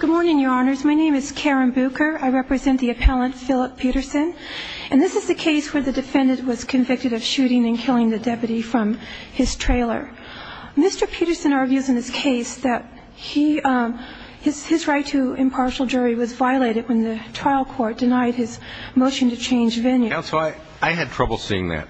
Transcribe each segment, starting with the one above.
Good morning, your honors. My name is Karen Bucher. I represent the appellant, Philip Peterson. And this is the case where the defendant was convicted of shooting and killing the deputy from his trailer. Mr. Peterson argues in his case that his right to impartial jury was violated when the trial court denied his motion to change venue. Counsel, I had trouble seeing that.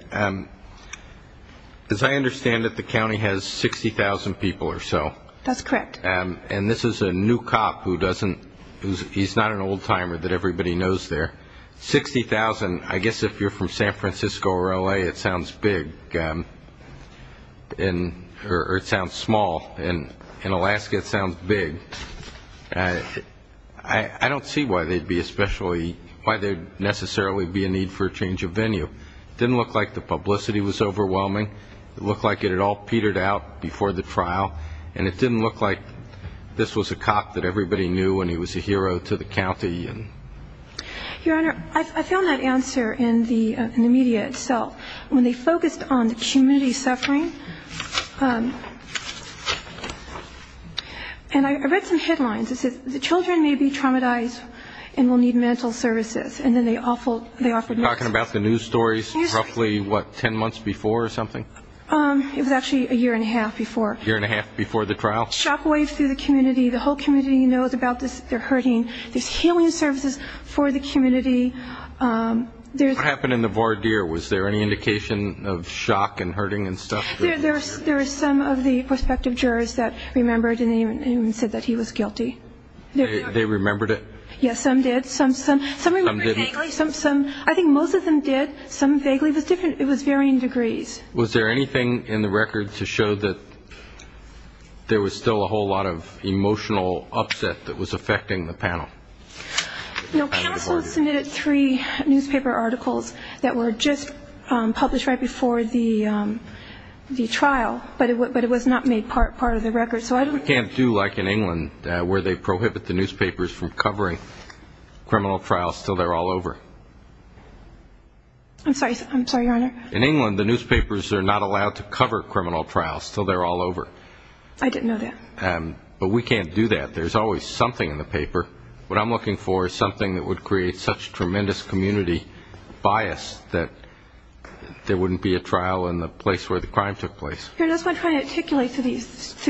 As I understand it, the county has 60,000 people or so. That's correct. And this is a new cop who doesn't, he's not an old timer that everybody knows there. Sixty thousand, I guess if you're from San Francisco or L.A., it sounds big. Or it sounds small. In Alaska, it sounds big. I don't see why there would necessarily be a need for a change of venue. It didn't look like the publicity was overwhelming. It looked like it had all petered out before the trial. And it didn't look like this was a cop that everybody knew and he was a hero to the county. Your honor, I found that answer in the media itself. When they focused on the community suffering, and I read some headlines that said, the children may be traumatized and will need mental services. And then they offered news stories. Talking about the news stories roughly, what, ten months before or something? It was actually a year and a half before. A year and a half before the trial? Shockwave through the community. The whole community knows about this. They're hurting. There's healing services for the community. What happened in the voir dire? Was there any indication of shock and hurting and stuff? There were some of the prospective jurors that remembered and said that he was guilty. They remembered it? Yes, some did. Some remembered vaguely. I think most of them did. Some vaguely. It was different. It was varying degrees. Was there anything in the record to show that there was still a whole lot of emotional upset that was affecting the panel? No, counsel submitted three newspaper articles that were just published right before the trial, but it was not made part of the record. You can't do like in England where they prohibit the newspapers from covering criminal trials until they're all over. I'm sorry, Your Honor. In England, the newspapers are not allowed to cover criminal trials until they're all over. I didn't know that. But we can't do that. There's always something in the paper. What I'm looking for is something that would create such tremendous community bias that there wouldn't be a trial in the place where the crime took place. Here's what I'm trying to articulate through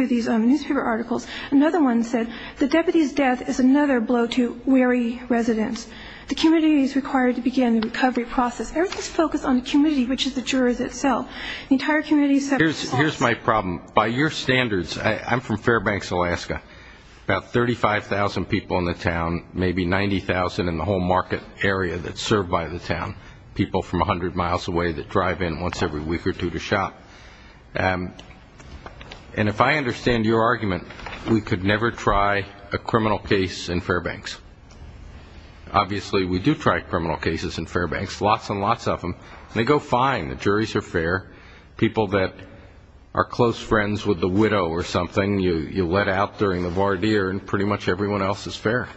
these newspaper articles. Another one said, the deputy's death is another blow to weary residents. The community is required to begin the recovery process. Everything is focused on the community, which is the jurors itself. The entire community is separate. Here's my problem. By your standards, I'm from Fairbanks, Alaska, about 35,000 people in the town, maybe 90,000 in the whole market area that's served by the town, people from 100 miles away that drive in once every week or two to shop. And if I understand your argument, we could never try a criminal case in Fairbanks. Obviously, we do try criminal cases in Fairbanks, lots and lots of them, and they go fine. The juries are fair. People that are close friends with the widow or something, you let out during the voir dire, and pretty much everyone else is fair.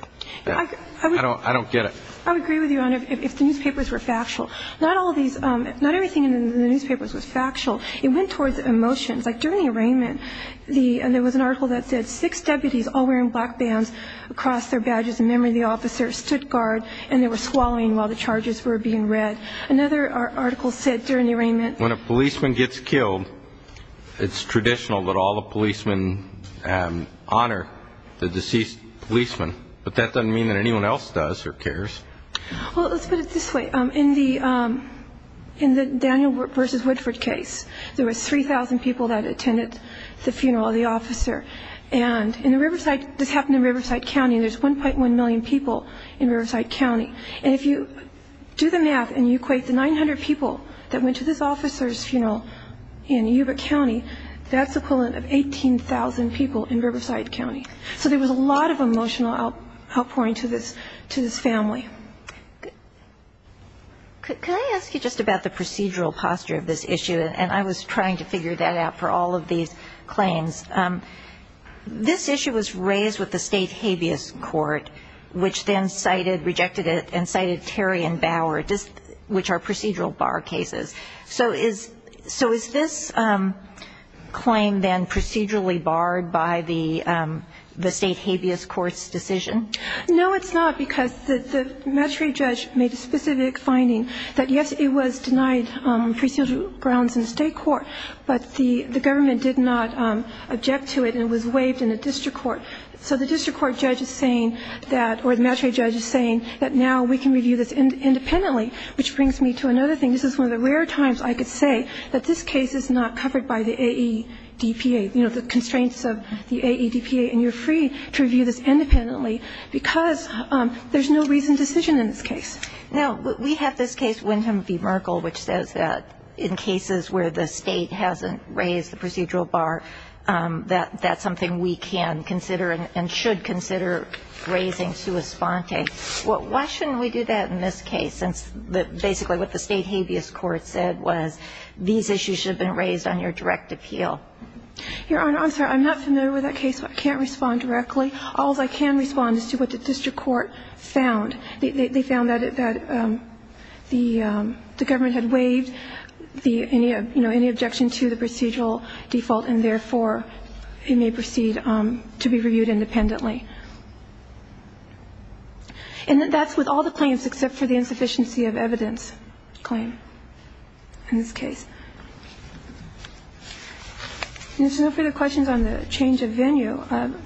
I don't get it. I would agree with you, Your Honor, if the newspapers were factual. Not all of these ñ not everything in the newspapers was factual. It went towards emotions. Like during the arraignment, there was an article that said six deputies all wearing black bands across their badges in memory of the officer stood guard, and they were swallowing while the charges were being read. Another article said during the arraignment ñ When a policeman gets killed, it's traditional that all the policemen honor the deceased policeman, but that doesn't mean that anyone else does or cares. Well, let's put it this way. In the Daniel v. Woodford case, there were 3,000 people that attended the funeral of the officer. And in the Riverside ñ this happened in Riverside County, and there's 1.1 million people in Riverside County. And if you do the math and you equate the 900 people that went to this officer's funeral in Yuba County, that's equivalent of 18,000 people in Riverside County. So there was a lot of emotional outpouring to this family. Could I ask you just about the procedural posture of this issue? And I was trying to figure that out for all of these claims. This issue was raised with the State Habeas Court, which then cited ñ rejected it and cited Terry and Bauer, which are procedural bar cases. So is this claim then procedurally barred by the State Habeas Court's decision? No, it's not, because the magistrate judge made a specific finding that, yes, it was denied procedural grounds in the State court, but the government did not object to it and it was waived in the district court. So the district court judge is saying that ñ or the magistrate judge is saying that now we can review this independently, which brings me to another thing. This is one of the rare times I could say that this case is not covered by the AEDPA, you know, the constraints of the AEDPA, and you're free to review this independently. Because there's no reasoned decision in this case. Now, we have this case, Wynton v. Merkle, which says that in cases where the State hasn't raised the procedural bar, that that's something we can consider and should consider raising sua sponte. Why shouldn't we do that in this case, since basically what the State Habeas Court said was these issues should have been raised on your direct appeal? Your Honor, I'm sorry. I'm not familiar with that case. I can't respond directly. All I can respond is to what the district court found. They found that the government had waived the ñ you know, any objection to the procedural default and, therefore, it may proceed to be reviewed independently. And that's with all the claims except for the insufficiency of evidence claim in this case. And there's no further questions on the change of venue.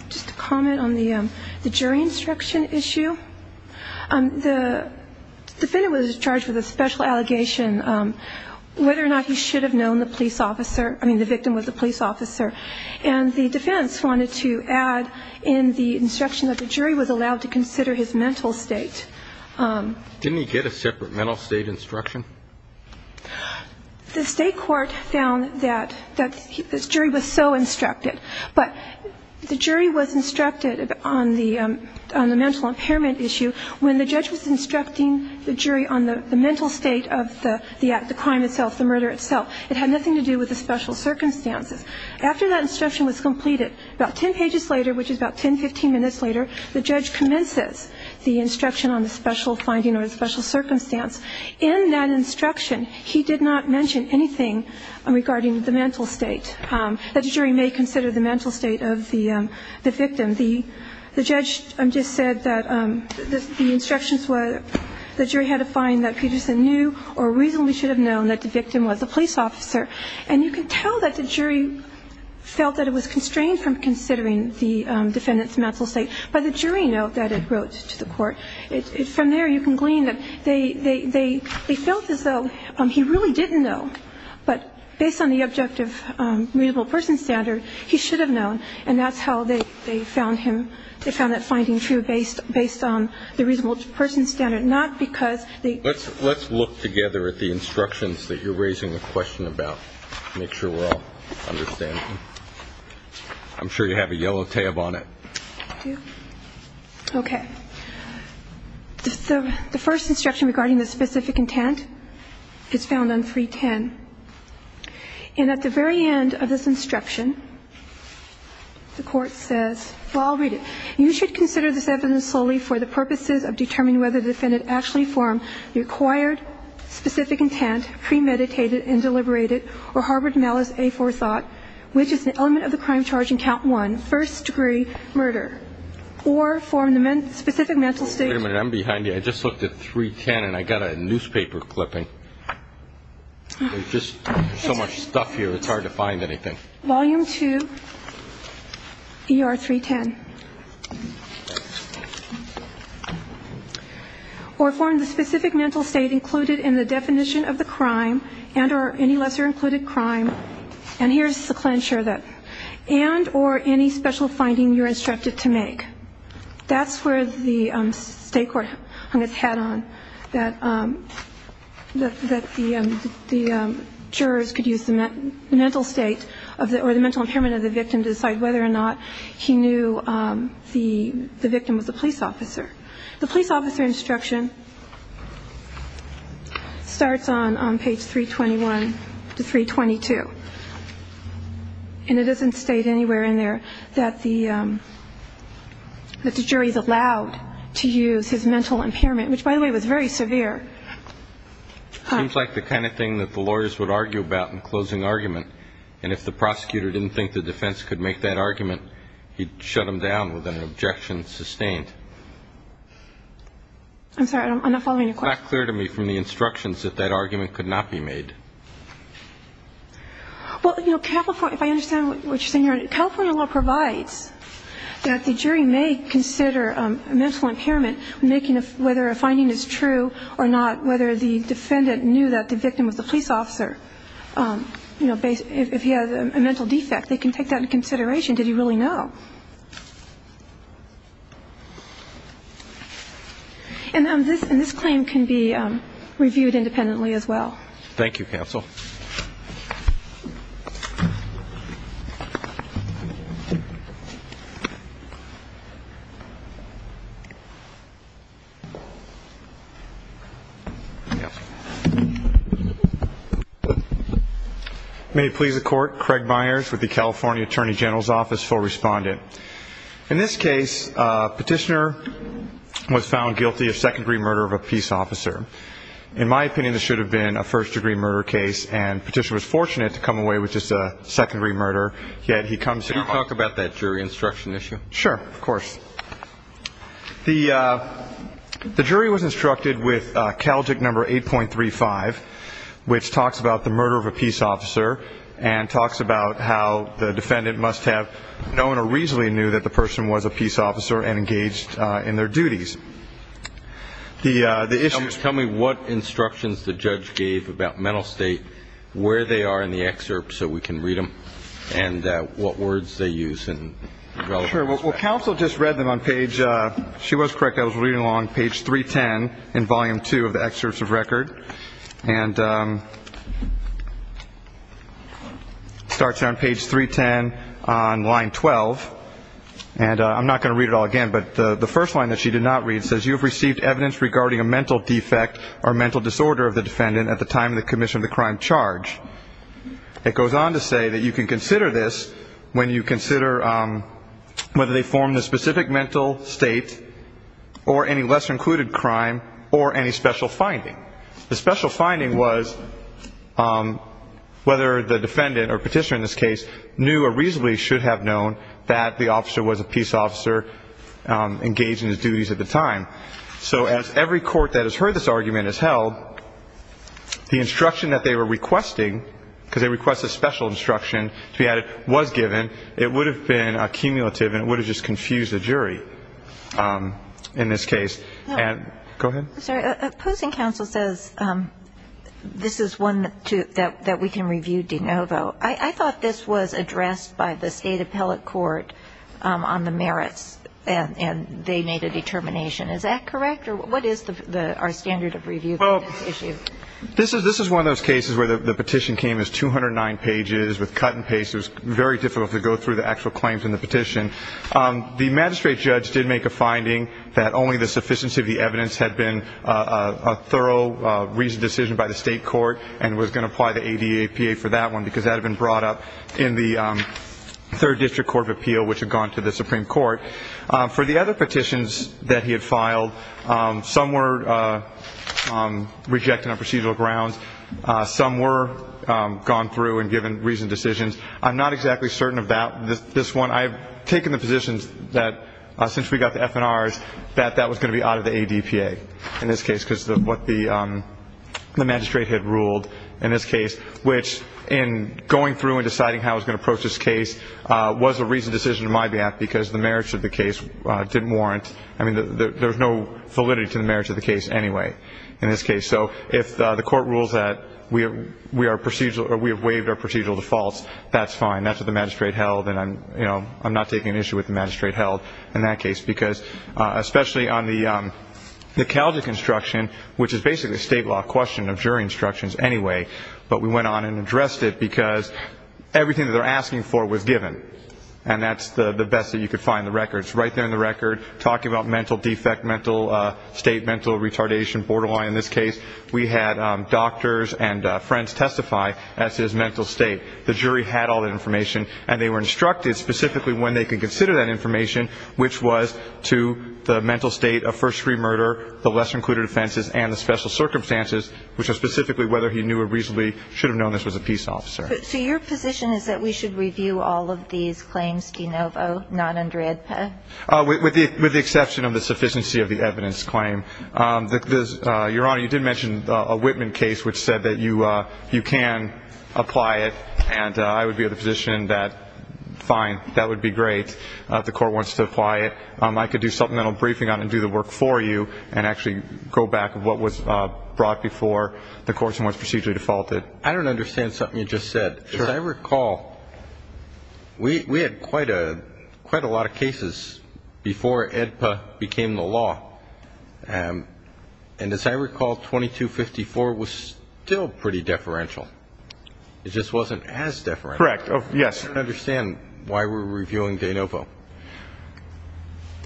Just a comment on the jury instruction issue. The defendant was charged with a special allegation, whether or not he should have known the police officer ñ I mean, the victim was a police officer. And the defense wanted to add in the instruction that the jury was allowed to consider his mental state. Didn't he get a separate mental state instruction? The State court found that the jury was so instructed. But the jury was instructed on the ñ on the mental impairment issue. When the judge was instructing the jury on the mental state of the act, the crime itself, the murder itself, it had nothing to do with the special circumstances. After that instruction was completed, about 10 pages later, which is about 10, 15 minutes later, the judge commences the instruction on the special finding or the special circumstance. In that instruction, he did not mention anything regarding the mental state that the victim. The judge just said that the instructions were ñ the jury had to find that Peterson knew or reasonably should have known that the victim was a police officer. And you can tell that the jury felt that it was constrained from considering the defendant's mental state by the jury note that it wrote to the court. From there, you can glean that they felt as though he really didn't know. But based on the objective reasonable person standard, he should have known. And that's how they found him. They found that finding true based on the reasonable person standard, not because they ñ Let's look together at the instructions that you're raising the question about. Make sure we're all understanding. I'm sure you have a yellow tab on it. I do. Okay. The first instruction regarding the specific intent is found on 310. And at the very end of this instruction, the court says ñ well, I'll read it. You should consider this evidence solely for the purposes of determining whether the defendant actually formed the required specific intent, premeditated and deliberated, or harbored malice a for thought, which is an element of the crime first degree murder, or formed the specific mental state ñ Wait a minute. I'm behind you. I just looked at 310, and I got a newspaper clipping. There's just so much stuff here, it's hard to find anything. Volume 2, ER 310. Or formed the specific mental state included in the definition of the crime and or any lesser included crime. And here's the clincher that and or any special finding you're instructed to make. That's where the state court hung its hat on, that the jurors could use the mental state or the mental impairment of the victim to decide whether or not he knew the victim was a police officer. The police officer instruction starts on page 321 to 322. And it doesn't state anywhere in there that the jury is allowed to use his mental impairment, which, by the way, was very severe. It seems like the kind of thing that the lawyers would argue about in closing argument. And if the prosecutor didn't think the defense could make that argument, he'd shut him down with an objection sustained. I'm sorry. I'm not following your question. It's not clear to me from the instructions that that argument could not be made. Well, you know, if I understand what you're saying here, California law provides that the jury may consider mental impairment, whether a finding is true or not, whether the defendant knew that the victim was a police officer. If he has a mental defect, they can take that into consideration. Did he really know? And this claim can be reviewed independently as well. Thank you, counsel. Thank you. May it please the Court. Craig Myers with the California Attorney General's Office, full respondent. In this case, a petitioner was found guilty of second-degree murder of a peace officer. In my opinion, this should have been a first-degree murder case, and petitioner was fortunate to come away with just a second-degree murder, yet he comes here. Can you talk about that jury instruction issue? Sure. Of course. The jury was instructed with CALJIC number 8.35, which talks about the murder of a peace officer and talks about how the defendant must have known or reasonably knew that the person was a peace officer and engaged in their duties. Tell me what instructions the judge gave about mental state, where they are in the excerpt, so we can read them, and what words they use. Sure. Well, counsel just read them on page ‑‑ she was correct. I was reading along page 310 in volume 2 of the excerpts of record, and it starts on page 310 on line 12. And I'm not going to read it all again, but the first line that she did not read says, you have received evidence regarding a mental defect or mental disorder of the defendant at the time of the commission of the crime charge. It goes on to say that you can consider this when you consider whether they formed a specific mental state or any lesser-included crime or any special finding. The special finding was whether the defendant, or petitioner in this case, knew or reasonably should have known that the officer was a peace officer engaged in his duties at the time. So as every court that has heard this argument has held, the instruction that they were requesting, because they request a special instruction to be added, was given. It would have been a cumulative, and it would have just confused the jury in this case. Go ahead. I'm sorry. I thought this was addressed by the state appellate court on the merits, and they made a determination. Is that correct? Or what is our standard of review for this issue? This is one of those cases where the petition came as 209 pages with cut and paste. It was very difficult to go through the actual claims in the petition. The magistrate judge did make a finding that only the sufficiency of the evidence had been a thorough, reasoned decision by the state court and was going to apply the ADAPA for that one because that had been brought up in the Third District Court of Appeal, which had gone to the Supreme Court. For the other petitions that he had filed, some were rejected on procedural grounds. Some were gone through and given reasoned decisions. I'm not exactly certain about this one. I have taken the position that since we got the FNRs that that was going to be out of the ADPA in this case because of what the magistrate had ruled in this case, which in going through and deciding how it was going to approach this case was a reasoned decision on my behalf because the merits of the case didn't warrant. I mean, there's no validity to the merits of the case anyway in this case. So if the court rules that we have waived our procedural defaults, that's fine. That's what the magistrate held, and I'm not taking an issue with the magistrate held in that case because especially on the Calgic instruction, which is basically a state law question of jury instructions anyway, but we went on and addressed it because everything that they're asking for was given, and that's the best that you could find in the records. Right there in the record, talking about mental defect, mental state, mental retardation, borderline in this case, we had doctors and friends testify as to his mental state. The jury had all that information, and they were instructed specifically when they could consider that information, which was to the mental state of first degree murder, the lesser included offenses, and the special circumstances, which was specifically whether he knew or reasonably should have known this was a peace officer. So your position is that we should review all of these claims de novo, not under AEDPA? With the exception of the sufficiency of the evidence claim. Your Honor, you did mention a Whitman case which said that you can apply it, and I would be of the position that fine, that would be great. If the court wants to apply it, I could do supplemental briefing on it and do the work for you and actually go back of what was brought before the courts and what's procedurally defaulted. I don't understand something you just said. As I recall, we had quite a lot of cases before AEDPA became the law, and as I recall, 2254 was still pretty deferential. It just wasn't as deferential. Correct. Yes. I don't understand why we're reviewing de novo.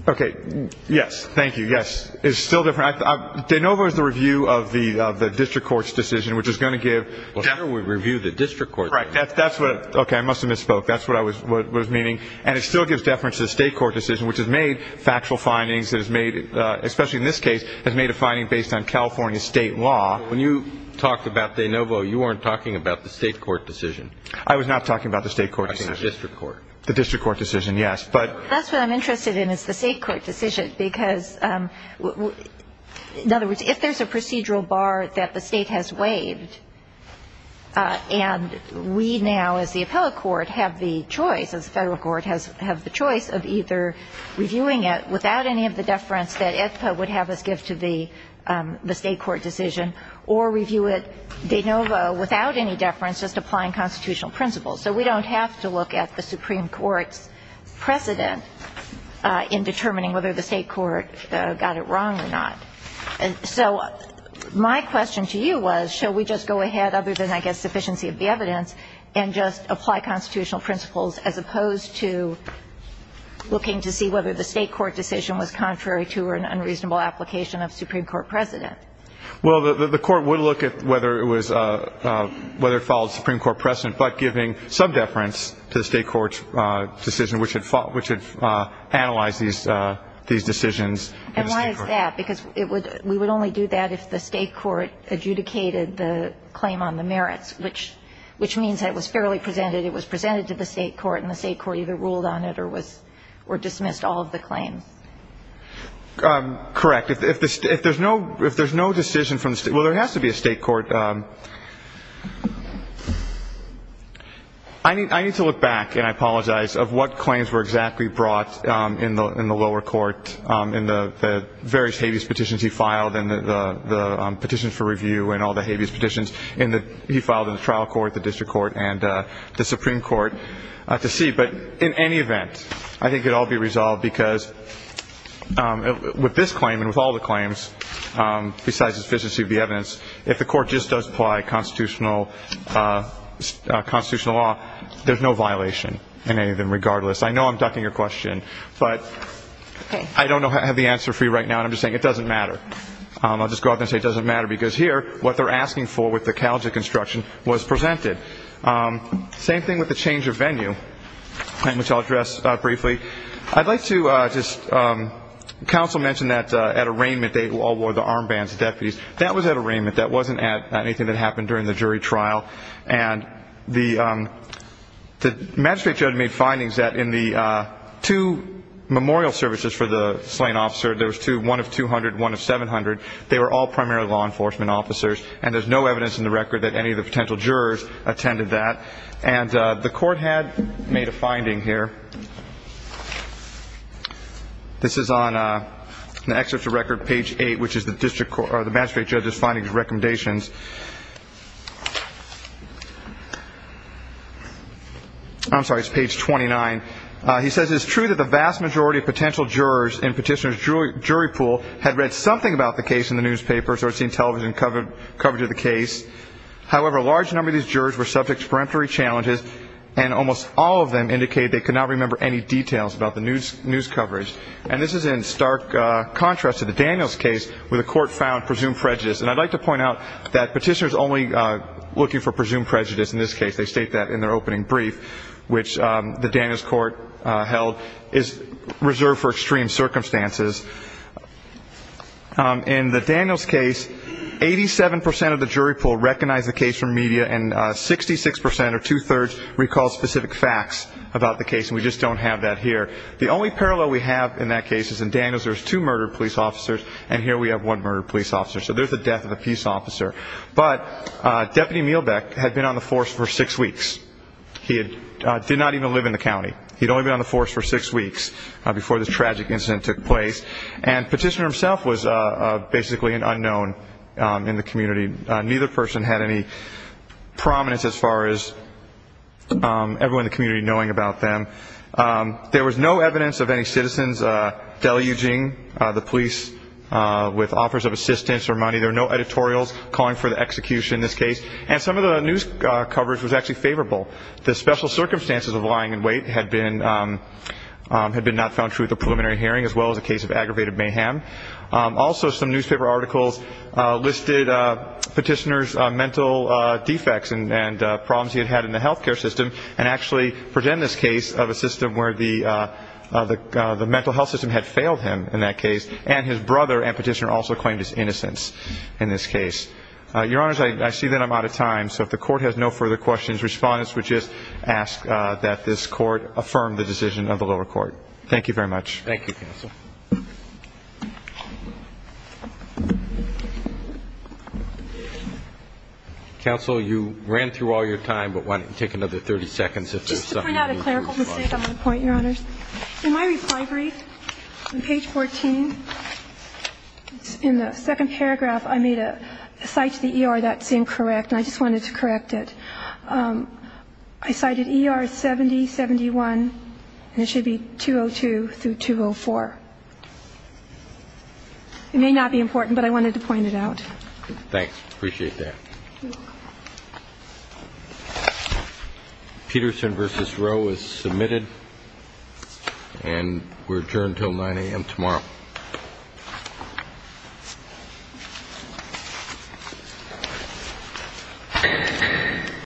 Okay. Yes. Thank you. Yes. It's still deferential. De novo is the review of the district court's decision, which is going to give. We review the district court's decision. Correct. That's what. Okay. I must have misspoke. That's what I was meaning. And it still gives deference to the state court decision, which has made factual findings, especially in this case, has made a finding based on California state law. When you talked about de novo, you weren't talking about the state court decision. I was not talking about the state court decision. The district court. The district court decision, yes. That's what I'm interested in is the state court decision, because, in other words, if there's a procedural bar that the state has waived, and we now as the appellate court have the choice, as the federal court has the choice of either reviewing it without any of the deference that AEDPA would have us give to the state court decision or review it de novo without any deference, just applying constitutional principles. So we don't have to look at the Supreme Court's precedent in determining whether the state court got it wrong or not. So my question to you was, shall we just go ahead, other than, I guess, sufficiency of the evidence, and just apply constitutional principles as opposed to looking to see whether the state court decision was contrary to an unreasonable application of Supreme Court precedent? Well, the court would look at whether it followed Supreme Court precedent, but giving some deference to the state court's decision, which had analyzed these decisions. And why is that? Because we would only do that if the state court adjudicated the claim on the merits, which means it was fairly presented. It was presented to the state court, and the state court either ruled on it or dismissed all of the claims. Correct. In fact, if there's no decision from the state court, well, there has to be a state court. I need to look back, and I apologize, of what claims were exactly brought in the lower court in the various habeas petitions he filed and the petitions for review and all the habeas petitions he filed in the trial court, the district court, and the Supreme Court to see. But in any event, I think it will all be resolved because with this claim and with all the claims besides the sufficiency of the evidence, if the court just does apply constitutional law, there's no violation in any of them regardless. I know I'm ducking your question, but I don't have the answer for you right now, and I'm just saying it doesn't matter. I'll just go out there and say it doesn't matter because here what they're asking for with the college of construction was presented. Same thing with the change of venue, which I'll address briefly. I'd like to just counsel mention that at arraignment they all wore the armbands, the deputies. That was at arraignment. That wasn't at anything that happened during the jury trial. And the magistrate judge made findings that in the two memorial services for the slain officer, there was one of 200, one of 700, they were all primary law enforcement officers, and there's no evidence in the record that any of the potential jurors attended that. And the court had made a finding here. This is on the excerpt of record, page 8, which is the magistrate judge's findings and recommendations. I'm sorry, it's page 29. He says, It is true that the vast majority of potential jurors in Petitioner's jury pool had read something about the case in the newspaper or seen television coverage of the case. However, a large number of these jurors were subject to peremptory challenges, and almost all of them indicated they could not remember any details about the news coverage. And this is in stark contrast to the Daniels case where the court found presumed prejudice. And I'd like to point out that Petitioner's only looking for presumed prejudice in this case. They state that in their opening brief, which the Daniels court held is reserved for extreme circumstances. In the Daniels case, 87% of the jury pool recognized the case from media, and 66% or two-thirds recalled specific facts about the case, and we just don't have that here. The only parallel we have in that case is in Daniels there's two murdered police officers, and here we have one murdered police officer. So there's the death of a peace officer. But Deputy Mielbeck had been on the force for six weeks. He did not even live in the county. He'd only been on the force for six weeks before this tragic incident took place, and Petitioner himself was basically an unknown in the community. Neither person had any prominence as far as everyone in the community knowing about them. There was no evidence of any citizens deluging the police with offers of assistance or money. There were no editorials calling for the execution in this case. And some of the news coverage was actually favorable. The special circumstances of lying in wait had been not found true at the preliminary hearing, as well as a case of aggravated mayhem. Also, some newspaper articles listed Petitioner's mental defects and problems he had had in the health care system, and actually present this case of a system where the mental health system had failed him in that case, and his brother and Petitioner also claimed his innocence in this case. Your Honors, I see that I'm out of time. So if the Court has no further questions, Respondents would just ask that this Court affirm the decision of the lower court. Thank you very much. Thank you, Counsel. Counsel, you ran through all your time, but why don't you take another 30 seconds if there's something you'd like to say. Just to point out a clerical mistake on the point, Your Honors. In my reply brief on page 14, in the second paragraph, I made a cite to the ER that's incorrect, and I just wanted to correct it. I cited ER 7071, and it should be 202 through 204. It may not be important, but I wanted to point it out. Thanks. Appreciate that. Thank you. Peterson v. Roe is submitted, and we're adjourned until 9 a.m. tomorrow.